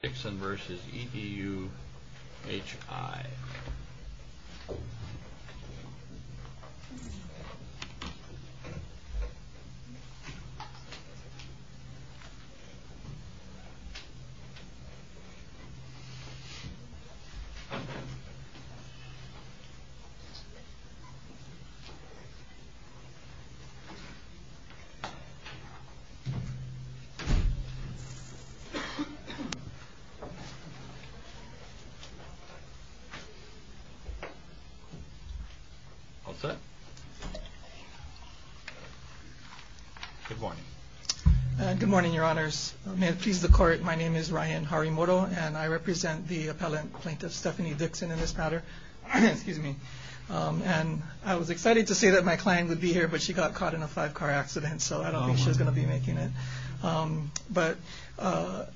Dixon v. EDU-HI Good morning, your honors. May it please the court, my name is Ryan Harimoto, and I represent the appellant plaintiff Stephanie Dixon in this matter. And I was excited to say that my client would be here, but she got caught in a five-car accident, so I don't think she's going to be making it. But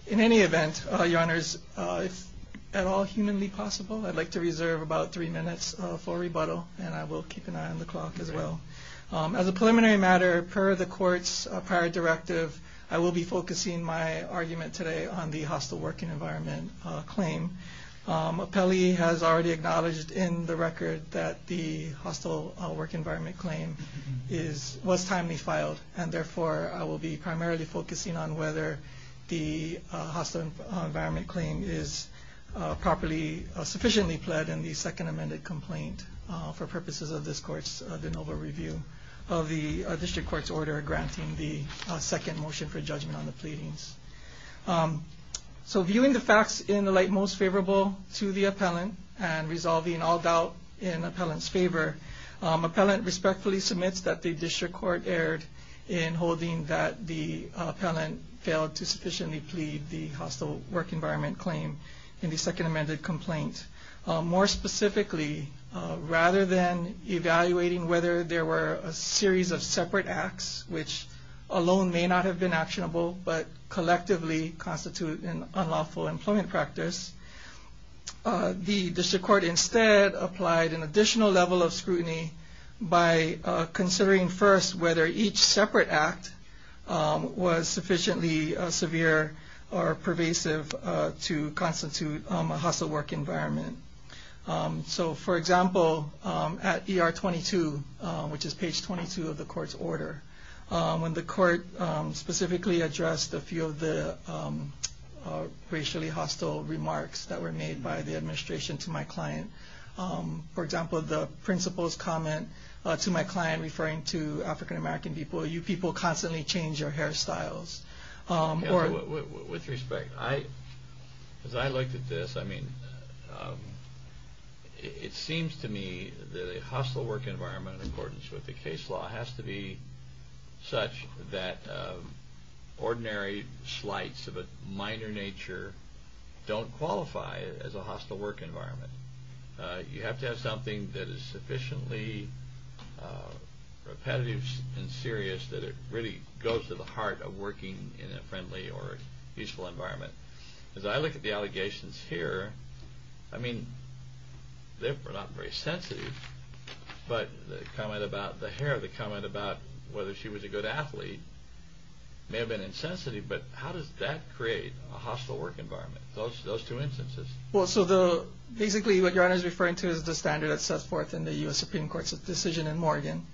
in any event, your honors, if at all humanly possible, I'd like to reserve about three minutes for rebuttal, and I will keep an eye on the clock as well. As a preliminary matter, per the court's prior directive, I will be focusing my argument today on the hostile working environment claim. Appellee has already acknowledged in the record that the hostile work environment claim was timely filed, and therefore I will be primarily focusing on whether the hostile environment claim is sufficiently pled in the second amended complaint for purposes of this court's de novo review of the district court's order granting the second motion for judgment on the pleadings. So viewing the facts in the appellant and resolving all doubt in appellant's favor, appellant respectfully submits that the district court erred in holding that the appellant failed to sufficiently plead the hostile work environment claim in the second amended complaint. More specifically, rather than evaluating whether there were a series of separate acts, which alone may not have been actionable, but collectively constitute an unlawful employment practice, the district court instead applied an additional level of scrutiny by considering first whether each separate act was sufficiently severe or pervasive to constitute a hostile work environment. So for example, at ER 22, which is page 22 of the court's order, when the court specifically addressed a few of the racially hostile remarks that were made by the administration to my client, for example, the principal's comment to my client referring to African-American people, you people constantly change your hairstyles. With respect, as I looked at this, I mean, it seems to me that a hostile work environment in accordance with the case law has to be such that ordinary slights of a minor nature don't qualify as a hostile work environment. You have to have something that is sufficiently repetitive and serious that it really goes to the heart of working in a friendly or peaceful environment. As I look at the allegations here, I mean, they're not very sensitive, but the comment about the hair, the comment about whether she was a good athlete may have been insensitive, but how does that create a hostile work environment, those two instances? So basically what your Honor is referring to is the standard that sets forth in the U.S. Supreme Court's decision in Morgan,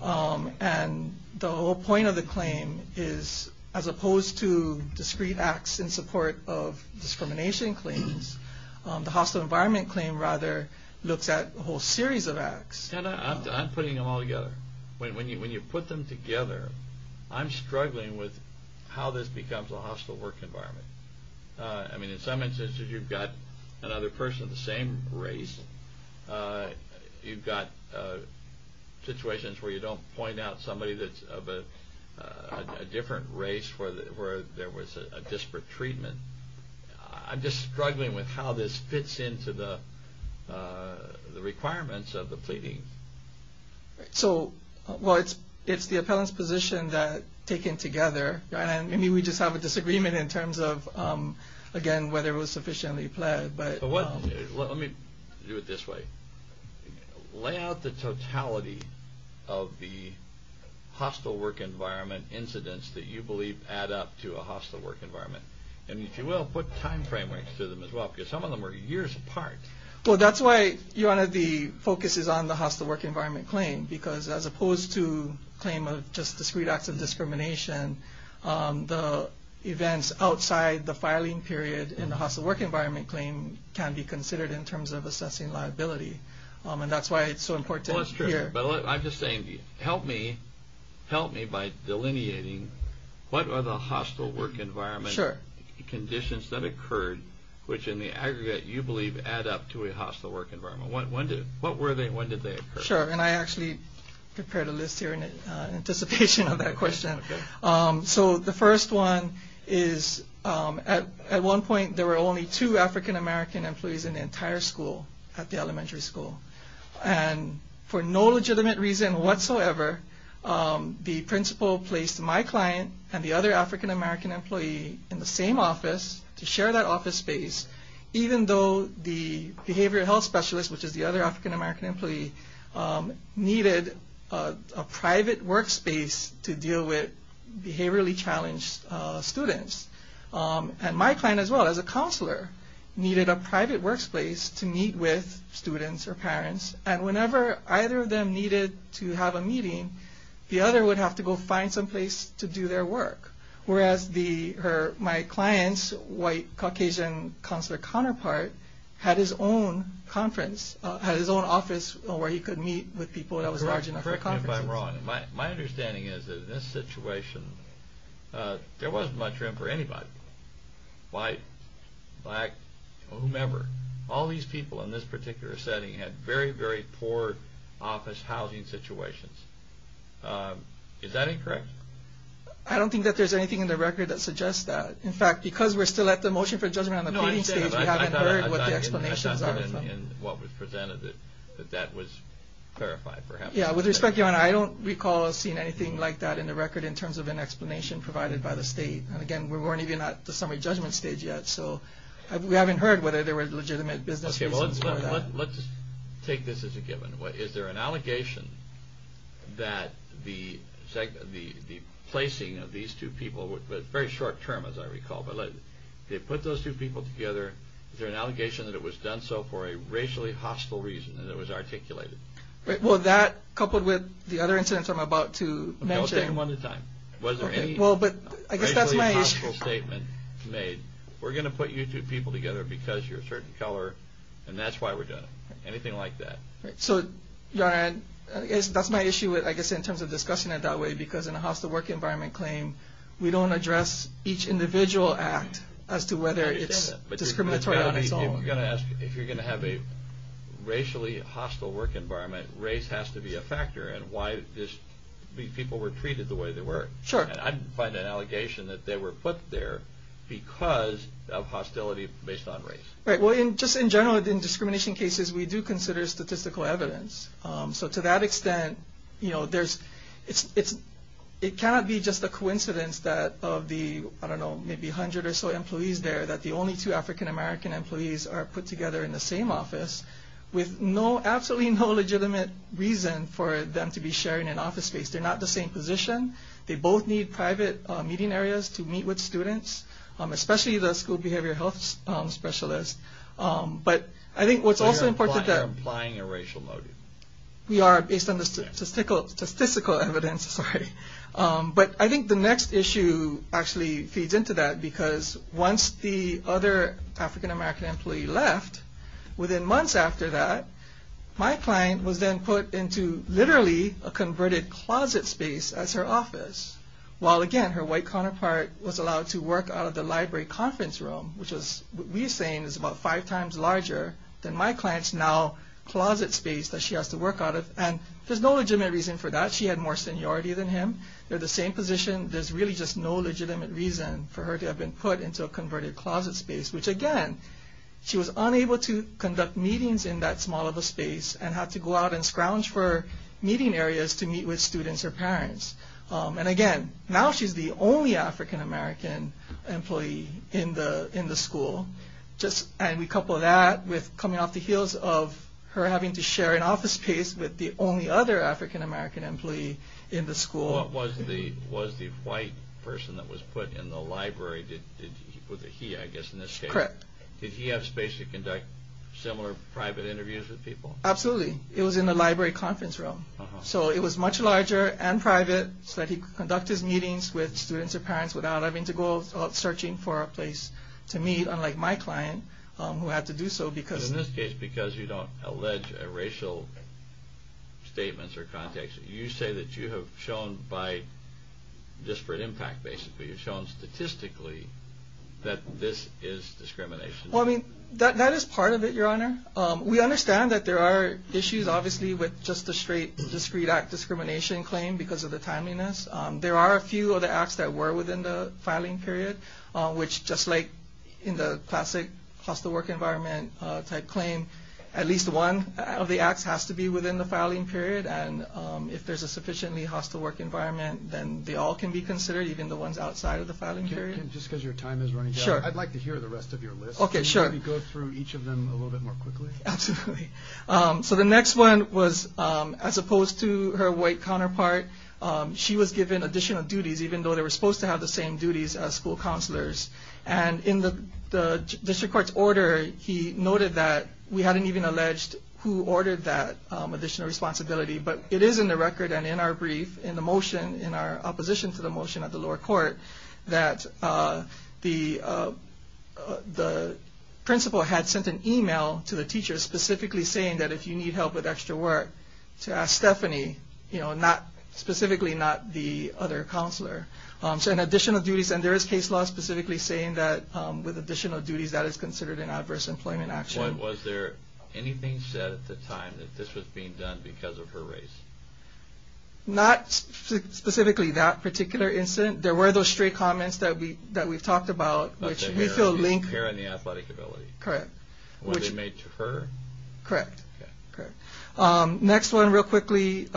and the whole point of the claim is as opposed to discrete acts in support of discrimination claims, the hostile environment claim rather looks at a whole series of acts. I'm putting them all together. When you put them together, I'm struggling with how this becomes a hostile work environment. I mean, in some instances you've got another person of the same race, you've got situations where you don't point out somebody that's of a different race where there was a disparate treatment. I'm just struggling with how this fits into the requirements of the pleading. So it's the appellant's position taken together. I mean, we just have a disagreement in terms of, again, whether it was sufficiently pled, but... Let me do it this way. Lay out the totality of the hostile work environment incidents that you believe add up to a hostile work environment, and if you will, put time frameworks to them as well, because some of them are years apart. Well, that's why one of the focuses on the hostile work environment claim, because as opposed to claim of just discrete acts of discrimination, the events outside the filing period in the hostile work environment claim can be considered in terms of assessing liability. And that's why it's so important here. Well, that's true, but I'm just saying, help me by delineating what are the hostile work environment conditions that occurred, which in the aggregate you believe add up to a hostile work environment. When did they occur? Sure, and I actually prepared a list here in anticipation of that question. So the first one is, at one point there were only two African American employees in the entire school, at the elementary school. And for no legitimate reason whatsoever, the principal placed my employee in the same office to share that office space, even though the behavioral health specialist, which is the other African American employee, needed a private work space to deal with behaviorally challenged students. And my client as well, as a counselor, needed a private work space to meet with students or parents, and whenever either of them needed to have a meeting, the other would have to go find some place to do their work. Whereas my client's white, Caucasian counselor counterpart had his own conference, had his own office where he could meet with people that was large enough for conferences. Correct me if I'm wrong. My understanding is that in this situation, there wasn't much room for anybody, white, black, whomever. All these people in this particular setting had very, very poor office housing situations. Is that incorrect? I don't think that there's anything in the record that suggests that. In fact, because we're still at the motion for judgment on the pleading stage, we haven't heard what the explanations are. I thought in what was presented that that was clarified, perhaps. Yeah, with respect, Your Honor, I don't recall seeing anything like that in the record in terms of an explanation provided by the state. And again, we weren't even at the summary judgment stage yet, so we haven't heard whether there were legitimate business reasons for that. Let's take this as a given. Is there an allegation that the placing of these two people, but very short term as I recall, but they put those two people together, is there an allegation that it was done so for a racially hostile reason and it was articulated? Well, that coupled with the other incidents I'm about to mention. No, say them one at a time. Was there any racially hostile statement made, we're going to put you two people together because you're a certain color, and that's why we're doing it. Anything like that. So, Your Honor, that's my issue, I guess, in terms of discussing it that way, because in a hostile work environment claim, we don't address each individual act as to whether it's discriminatory on its own. You're going to ask, if you're going to have a racially hostile work environment, race has to be a factor in why these people were treated the way they were. Sure. And I find an allegation that they were put there because of hostility based on race. Right. Well, just in general, in discrimination cases, we do consider statistical evidence. So, to that extent, it cannot be just a coincidence that of the, I don't know, maybe 100 or so employees there, that the only two African-American employees are put together in the same office with absolutely no legitimate reason for them to be sharing an office space. They're not in the same position. They both need private meeting areas to meet with students, especially the school behavior health specialist. But I think what's also important is that... So, you're implying a racial motive. We are, based on the statistical evidence. But I think the next issue actually feeds into that, because once the other African-American employee left, within months after that, my client was then put into literally a converted closet space as her office, while, again, her white counterpart was allowed to work out of the library conference room, which we're saying is about five times larger than my client's now closet space that she has to work out of. And there's no legitimate reason for that. She had more seniority than him. They're the same position. There's really just no legitimate reason for her to have been put into a converted closet space, which, again, she was unable to conduct meetings in that small of a space and had to go out and scrounge for meeting areas to meet with students or parents. And again, now she's the only African-American employee in the school. And we couple that with coming off the heels of her having to share an office space with the only other African-American employee in the school. What was the white person that was put in the library? Did he, I guess, in this case, did he have space to conduct similar private interviews with people? Absolutely. It was in the library conference room. So it was much larger and private so that he could conduct his meetings with students or parents without having to go out searching for a place to meet, unlike my client who had to do so. Because in this case, because you don't allege racial statements or context, you say that you have shown by disparate impact, basically, you've shown statistically that this is discrimination. I mean, that is part of it, Your Honor. We understand that there are issues, obviously, with just a straight discrete act discrimination claim because of the timeliness. There are a few of the acts that were within the filing period, which just like in the classic hostile work environment type claim, at least one of the acts has to be within the filing period. And if there's a sufficiently hostile work environment, then they all can be considered, even the ones outside of the filing period. Just because your time is running out, I'd like to hear the rest of your list. OK, sure. Go through each of them a little bit more quickly. Absolutely. So the next one was, as opposed to her white counterpart, she was given additional duties, even though they were supposed to have the same duties as school counselors. And in the district court's order, he noted that we hadn't even alleged who ordered that additional responsibility. But it is in the record and in our brief, in the motion, in our opposition to the motion at the lower court, that the principal had sent an email to the teacher specifically saying that if you need help with extra work to ask Stephanie, you know, not specifically not the other counselor. So in additional duties, and there is case law specifically saying that with additional duties that is considered an adverse employment action. Was there anything said at the time that this was being done because of her race? Not specifically that particular incident. There were those straight comments that we that we've talked about, which we feel link here in the athletic ability. Correct. What they made to her. Correct. Correct. Next one real quickly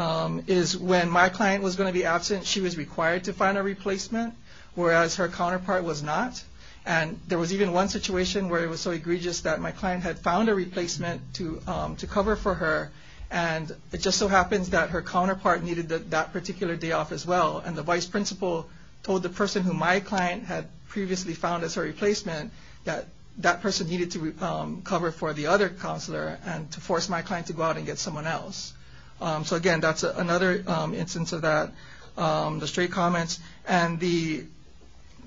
is when my client was going to be absent, she was required to find a replacement, whereas her counterpart was not. And there was even one situation where it was so egregious that my client had found a replacement for her and it just so happens that her counterpart needed that particular day off as well. And the vice principal told the person who my client had previously found as her replacement that that person needed to cover for the other counselor and to force my client to go out and get someone else. So, again, that's another instance of that. The straight comments and the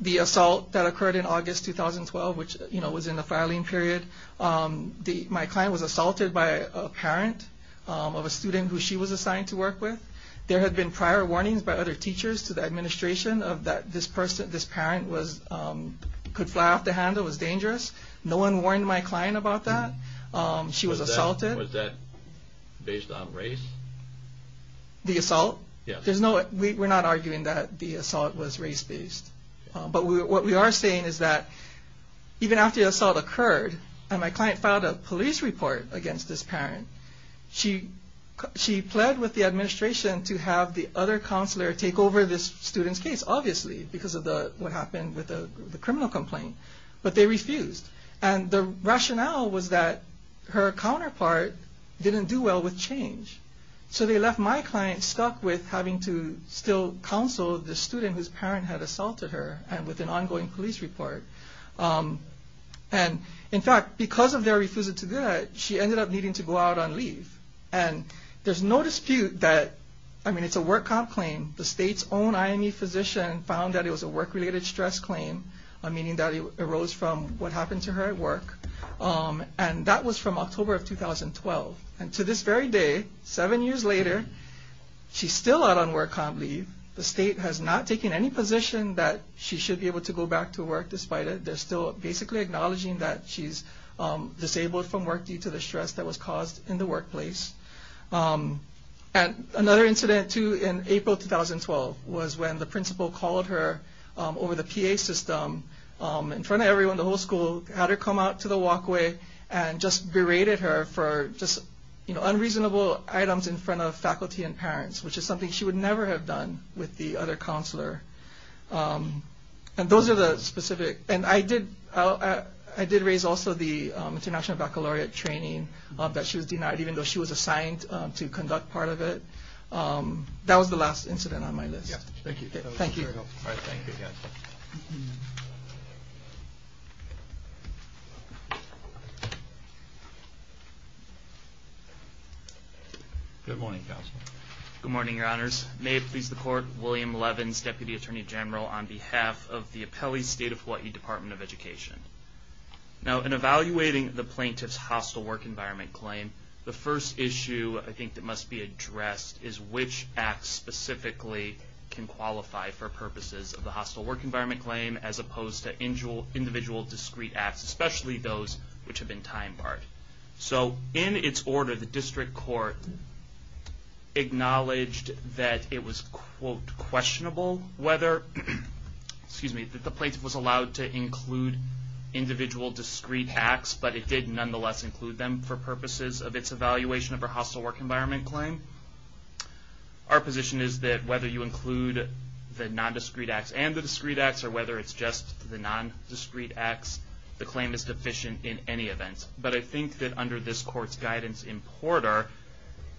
the assault that occurred in August 2012, which was in the home of a parent of a student who she was assigned to work with. There had been prior warnings by other teachers to the administration of that this person, this parent was could fly off the handle, was dangerous. No one warned my client about that. She was assaulted. Was that based on race? The assault? Yeah, there's no we're not arguing that the assault was race based. But what we are saying is that even after the assault occurred and my client filed a police report against this parent, she she pled with the administration to have the other counselor take over this student's case, obviously, because of what happened with the criminal complaint. But they refused. And the rationale was that her counterpart didn't do well with change. So they left my client stuck with having to still counsel the student whose parent had assaulted her and with an ongoing police report. And in fact, because of their refusal to do that, she ended up needing to go out on leave. And there's no dispute that I mean, it's a work comp claim. The state's own IME physician found that it was a work related stress claim, meaning that it arose from what happened to her at work. And that was from October of 2012. And to this very day, seven years later, she's still out on work comp leave. The state has not taken any position that she should be able to go back to work despite it. They're still basically acknowledging that she's disabled from work due to the stress that was caused in the workplace. And another incident, too, in April 2012 was when the principal called her over the PA system in front of everyone, the whole school had to come out to the walkway and just berated her for just unreasonable items in front of faculty and parents, which is something that she would never have done with the other counselor. And those are the specific and I did I did raise also the international baccalaureate training that she was denied, even though she was assigned to conduct part of it. That was the last incident on my list. Thank you. Thank you. Good morning, counsel. Good morning, your honors. May it please the court, William Levins, Deputy Attorney General on behalf of the Apele State of Hawaii Department of Education. Now, in evaluating the plaintiff's hostile work environment claim, the first issue I think that must be addressed is which acts specifically can qualify for purposes of the hostile work environment claim as opposed to individual discrete acts, especially those which have been time barred. So in its order, the district court acknowledged that it was, quote, questionable whether, excuse me, that the plaintiff was allowed to include individual discrete acts, but it did nonetheless include them for purposes of its evaluation of her hostile work environment claim. Our position is that whether you include the nondiscrete acts and the discrete acts or whether it's just the nondiscrete acts, the claim is deficient in any event. But I think that under this court's guidance in Porter,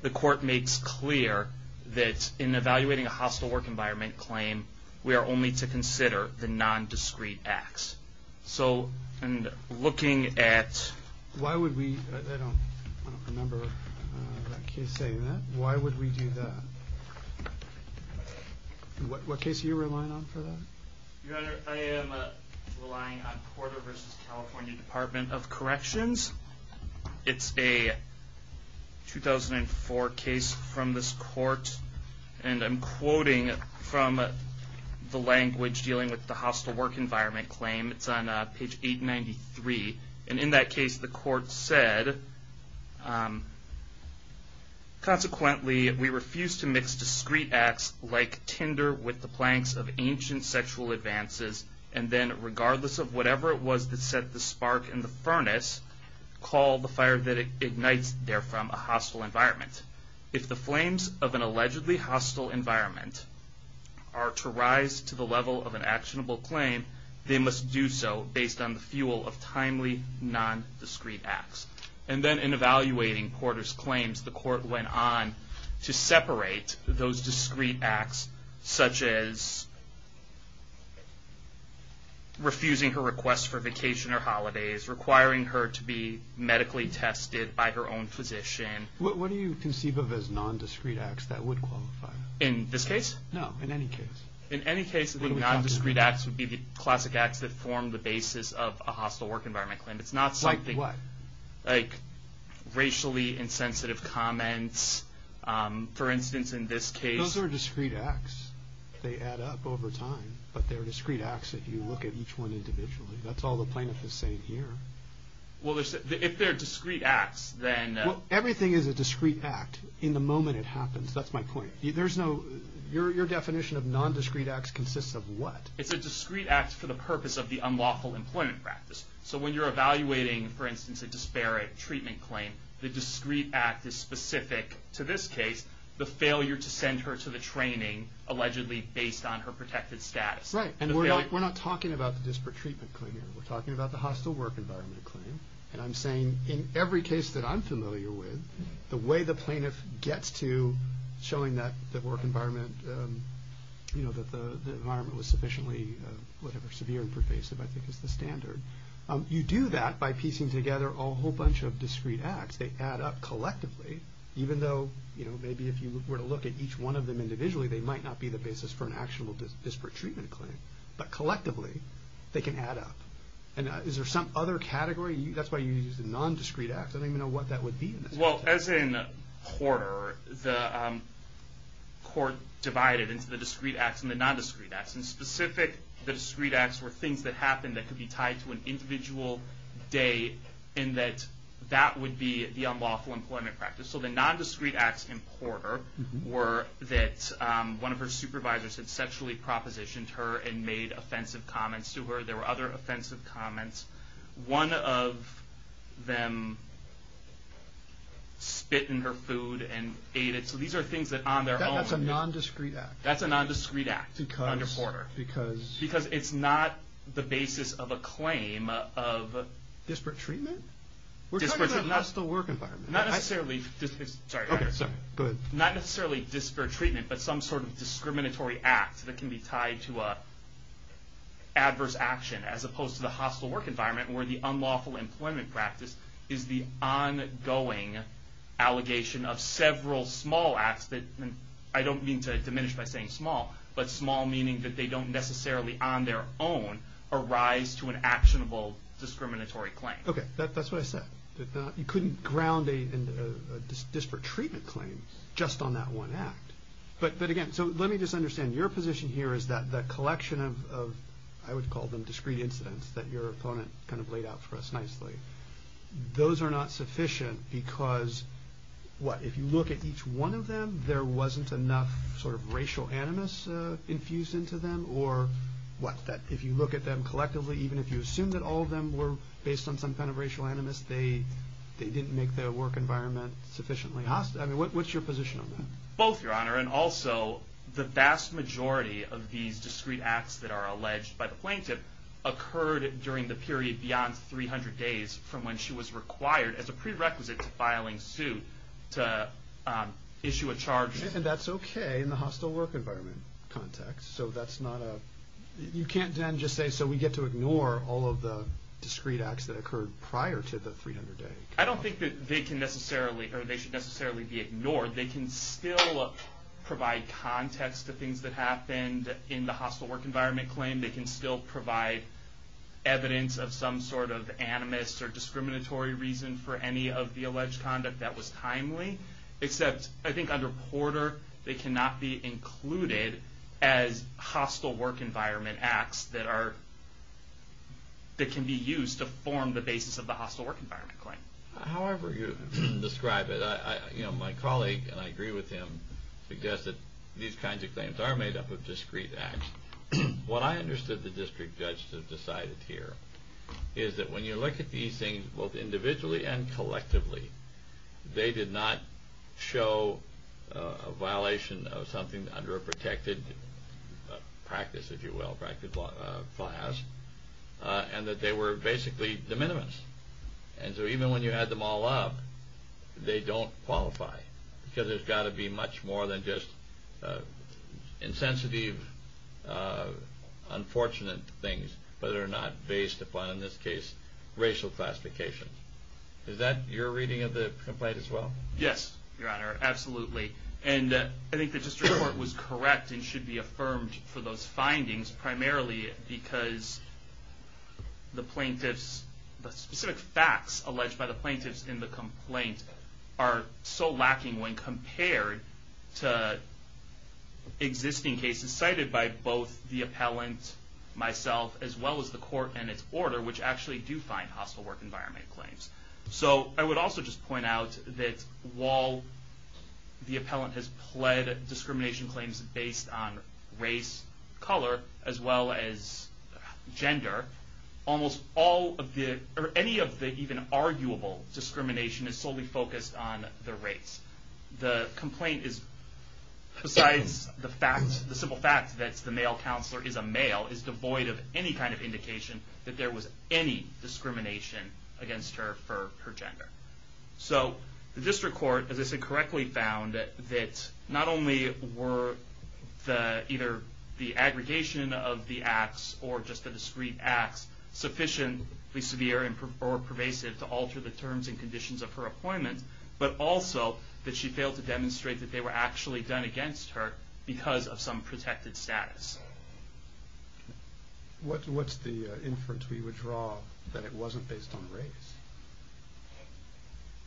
the court makes clear that in evaluating a hostile work environment claim, we are only to consider the nondiscrete acts. So, and looking at... Why would we, I don't remember that case saying that, why would we do that? What case are you relying on for that? Your Honor, I am relying on Porter versus California Department of Corrections. It's a 2004 case from this court, and I'm quoting from the language dealing with the hostile work environment claim. It's on page 893, and in that case, the court said, consequently, we refuse to mix discrete acts like tinder with the planks of ancient sexual advances, and then regardless of whatever it was that set the spark in the furnace, call the fire that ignites therefrom a hostile environment. If the flames of an allegedly hostile environment are to rise to the level of an actionable claim, they must do so based on the fuel of timely nondiscrete acts. And then in evaluating Porter's claims, the court went on to separate those discrete acts, such as refusing her request for vacation or holidays, requiring her to be medically tested by her own physician. What do you conceive of as nondiscrete acts that would qualify? In this case? No, in any case. In any case, the nondiscrete acts would be the classic acts that form the basis of a hostile work environment claim. It's not something... Like what? Like racially insensitive comments. For instance, in this case... Those are discrete acts. They add up over time, but they're discrete acts if you look at each one individually. That's all the plaintiff is saying here. Well, if they're discrete acts, then... Well, everything is a discrete act in the moment it happens. That's my point. There's no... Your definition of nondiscrete acts consists of what? It's a discrete act for the purpose of the unlawful employment practice. So when you're evaluating, for instance, a disparate treatment claim, the discrete act is specific to this case, the failure to send her to the training allegedly based on her protected status. Right. And we're not talking about the disparate treatment claim here. We're talking about the hostile work environment claim. And I'm saying in every case that I'm familiar with, the way the plaintiff gets to showing that the work environment, that the environment was sufficiently, whatever, severe and pervasive I think is the standard. You do that by piecing together a whole bunch of discrete acts. They add up collectively, even though, you know, maybe if you were to look at each one of them individually, they might not be the basis for an actionable disparate treatment claim, but collectively they can add up. And is there some other category? That's why you use the nondiscrete acts. I don't even know what that would be. Well, as in Horter, the court divided into the discrete acts and the nondiscrete acts. And specific, the discrete acts were things that happened that could be tied to an individual day in that that would be the unlawful employment practice. So the nondiscrete acts in Horter were that one of her supervisors had sexually propositioned her and made offensive comments to her. There were other offensive comments. One of them spit in her food and ate it. So these are things that on their own. That's a nondiscrete act. That's a nondiscrete act under Horter because it's not the basis of a claim of disparate treatment. We're talking about a hostile work environment. Not necessarily disparate treatment, but some sort of discriminatory act that can be tied to adverse action as opposed to the hostile work environment where the unlawful employment practice is the ongoing allegation of several small acts that I don't mean to say small, but small meaning that they don't necessarily on their own arise to an actionable discriminatory claim. Okay, that's what I said, that you couldn't ground a disparate treatment claim just on that one act. But again, so let me just understand your position here is that the collection of, I would call them discrete incidents that your opponent kind of laid out for us nicely. Those are not sufficient because what, if you look at each one of them, there wasn't enough sort of racial animus infused into them or what, that if you look at them collectively, even if you assume that all of them were based on some kind of racial animus, they didn't make their work environment sufficiently hostile. I mean, what's your position on that? Both, Your Honor, and also the vast majority of these discrete acts that are alleged by the plaintiff occurred during the period beyond 300 days from when she was required as a prerequisite to filing suit, to issue a charge. And that's okay in the hostile work environment context. So that's not a, you can't then just say, so we get to ignore all of the discrete acts that occurred prior to the 300 day. I don't think that they can necessarily, or they should necessarily be ignored. They can still provide context to things that happened in the hostile work environment claim. They can still provide evidence of some sort of animus or discriminatory reason for any of the alleged conduct that was timely, except I think under Porter, they cannot be included as hostile work environment acts that are, that can be used to form the basis of the hostile work environment claim. However you describe it, I, you know, my colleague, and I agree with him, suggests that these kinds of claims are made up of discrete acts. What I understood the district judges have decided here is that when you look at these things, both individually and collectively, they did not show a violation of something under a protected practice, if you will, practice class, and that they were basically de minimis. And so even when you had them all up, they don't qualify because there's got to be much more than just insensitive, unfortunate things, but they're not based upon, in this case, racial classification. Is that your reading of the complaint as well? Yes, Your Honor, absolutely. And I think the district court was correct and should be affirmed for those findings, primarily because the plaintiffs, the specific facts alleged by the plaintiffs in the complaint are so lacking when compared to existing cases cited by both the appellant, myself, as well as the court and its order, which actually do find hostile work environment claims. So I would also just point out that while the appellant has pled discrimination claims based on race, color, as well as gender, almost all of the, or any of the even arguable discrimination is solely focused on the race. The complaint is, besides the simple fact that the male counselor is a male, is devoid of any kind of indication that there was any discrimination against her for her gender. So the district court, as I said, correctly found that not only were either the aggregation of the acts or just the discrete acts sufficiently severe or pervasive to that she failed to demonstrate that they were actually done against her because of some protected status. What, what's the inference we would draw that it wasn't based on race?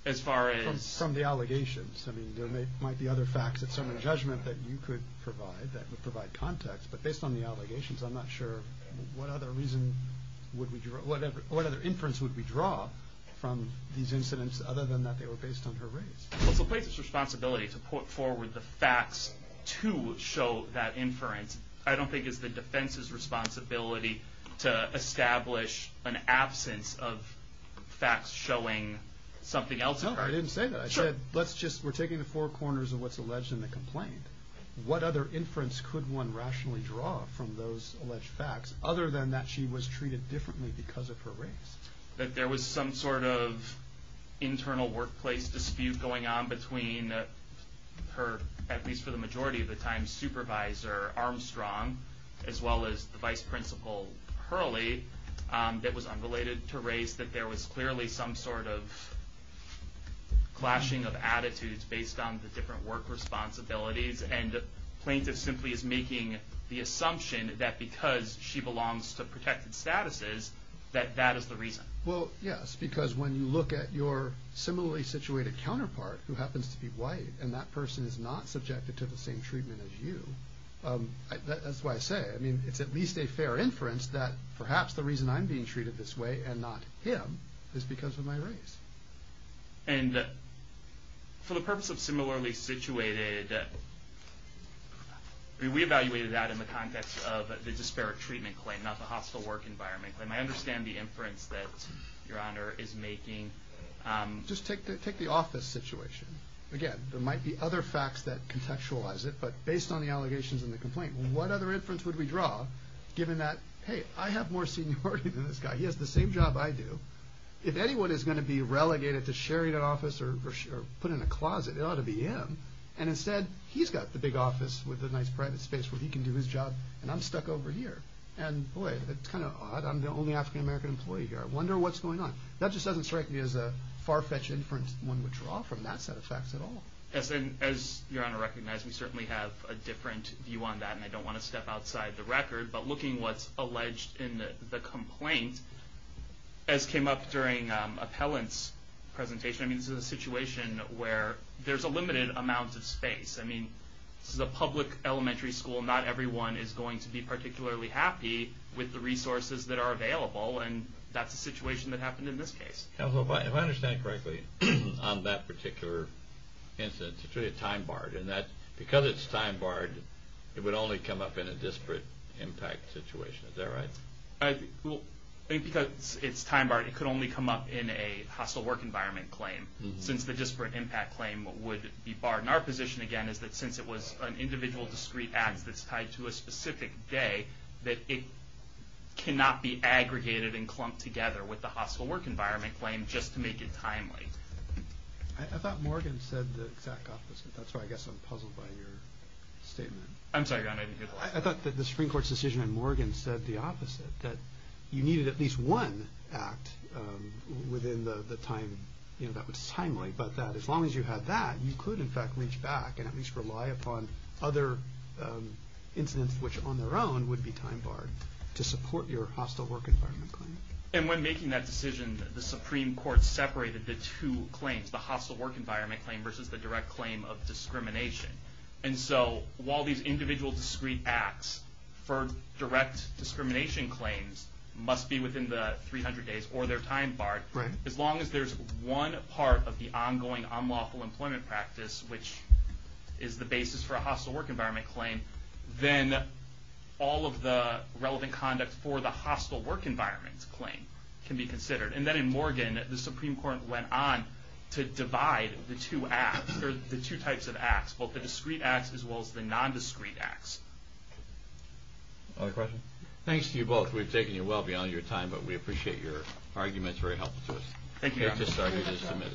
As far as? From the allegations. I mean, there may, might be other facts at some of the judgment that you could provide that would provide context, but based on the allegations, I'm not sure what other reason would we draw, whatever, what other inference would we draw from these incidents other than that they were based on her race? Well, it's the plaintiff's responsibility to put forward the facts to show that inference. I don't think it's the defense's responsibility to establish an absence of facts showing something else. No, I didn't say that. I said, let's just, we're taking the four corners of what's alleged in the complaint. What other inference could one rationally draw from those alleged facts other than that she was treated differently because of her race? That there was some sort of internal workplace dispute going on between her, at least for the majority of the time, supervisor Armstrong, as well as the vice principal Hurley, that was unrelated to race. That there was clearly some sort of clashing of attitudes based on the different work responsibilities and plaintiff simply is making the assumption that because she Well, yes, because when you look at your similarly situated counterpart who happens to be white and that person is not subjected to the same treatment as you, that's why I say, I mean, it's at least a fair inference that perhaps the reason I'm being treated this way and not him is because of my race. And for the purpose of similarly situated, we evaluated that in the context of the disparate treatment claim, not the hostile work environment claim. I understand the inference that your honor is making. Just take the office situation. Again, there might be other facts that contextualize it, but based on the allegations in the complaint, what other inference would we draw given that, hey, I have more seniority than this guy. He has the same job I do. If anyone is going to be relegated to sharing an office or put in a closet, it ought to be him. And instead he's got the big office with a nice private space where he can do his job and I'm stuck over here. And boy, it's kind of odd. I'm the only African American employee here. I wonder what's going on. That just doesn't strike me as a far fetched inference one would draw from that set of facts at all. Yes. And as your honor recognized, we certainly have a different view on that. And I don't want to step outside the record, but looking what's alleged in the complaint, as came up during appellant's presentation, I mean, this is a situation where there's a limited amount of space. I mean, this is a public elementary school. Not everyone is going to be particularly happy with the resources that are available. And that's the situation that happened in this case. Counselor, if I understand correctly on that particular instance, it's really a time barred. And that because it's time barred, it would only come up in a disparate impact situation. Is that right? I think because it's time barred, it could only come up in a hostile work environment claim since the disparate impact claim would be barred. And our position, again, is that since it was an individual discrete act that's tied to a specific day, that it cannot be aggregated and clumped together with the hostile work environment claim just to make it timely. I thought Morgan said the exact opposite. That's why I guess I'm puzzled by your statement. I'm sorry, your honor, I didn't hear the last part. I thought that the Supreme Court's decision in Morgan said the opposite, that you needed at least one act within the time, you know, that was timely. But that as long as you had that, you could, in fact, reach back and at least rely upon other incidents which on their own would be time barred to support your hostile work environment claim. And when making that decision, the Supreme Court separated the two claims, the hostile work environment claim versus the direct claim of discrimination. And so while these individual discrete acts for direct discrimination claims must be within the 300 days or they're time barred, as long as there's one part of the ongoing unlawful employment practice, which is the basis for a hostile work environment claim, then all of the relevant conduct for the hostile work environment claim can be considered. And then in Morgan, the Supreme Court went on to divide the two acts or the two types of acts, both the discrete acts as well as the non-discrete acts. Other questions? Thanks to you both. We've taken you well beyond your time, but we appreciate your arguments. Very helpful to us. Thank you.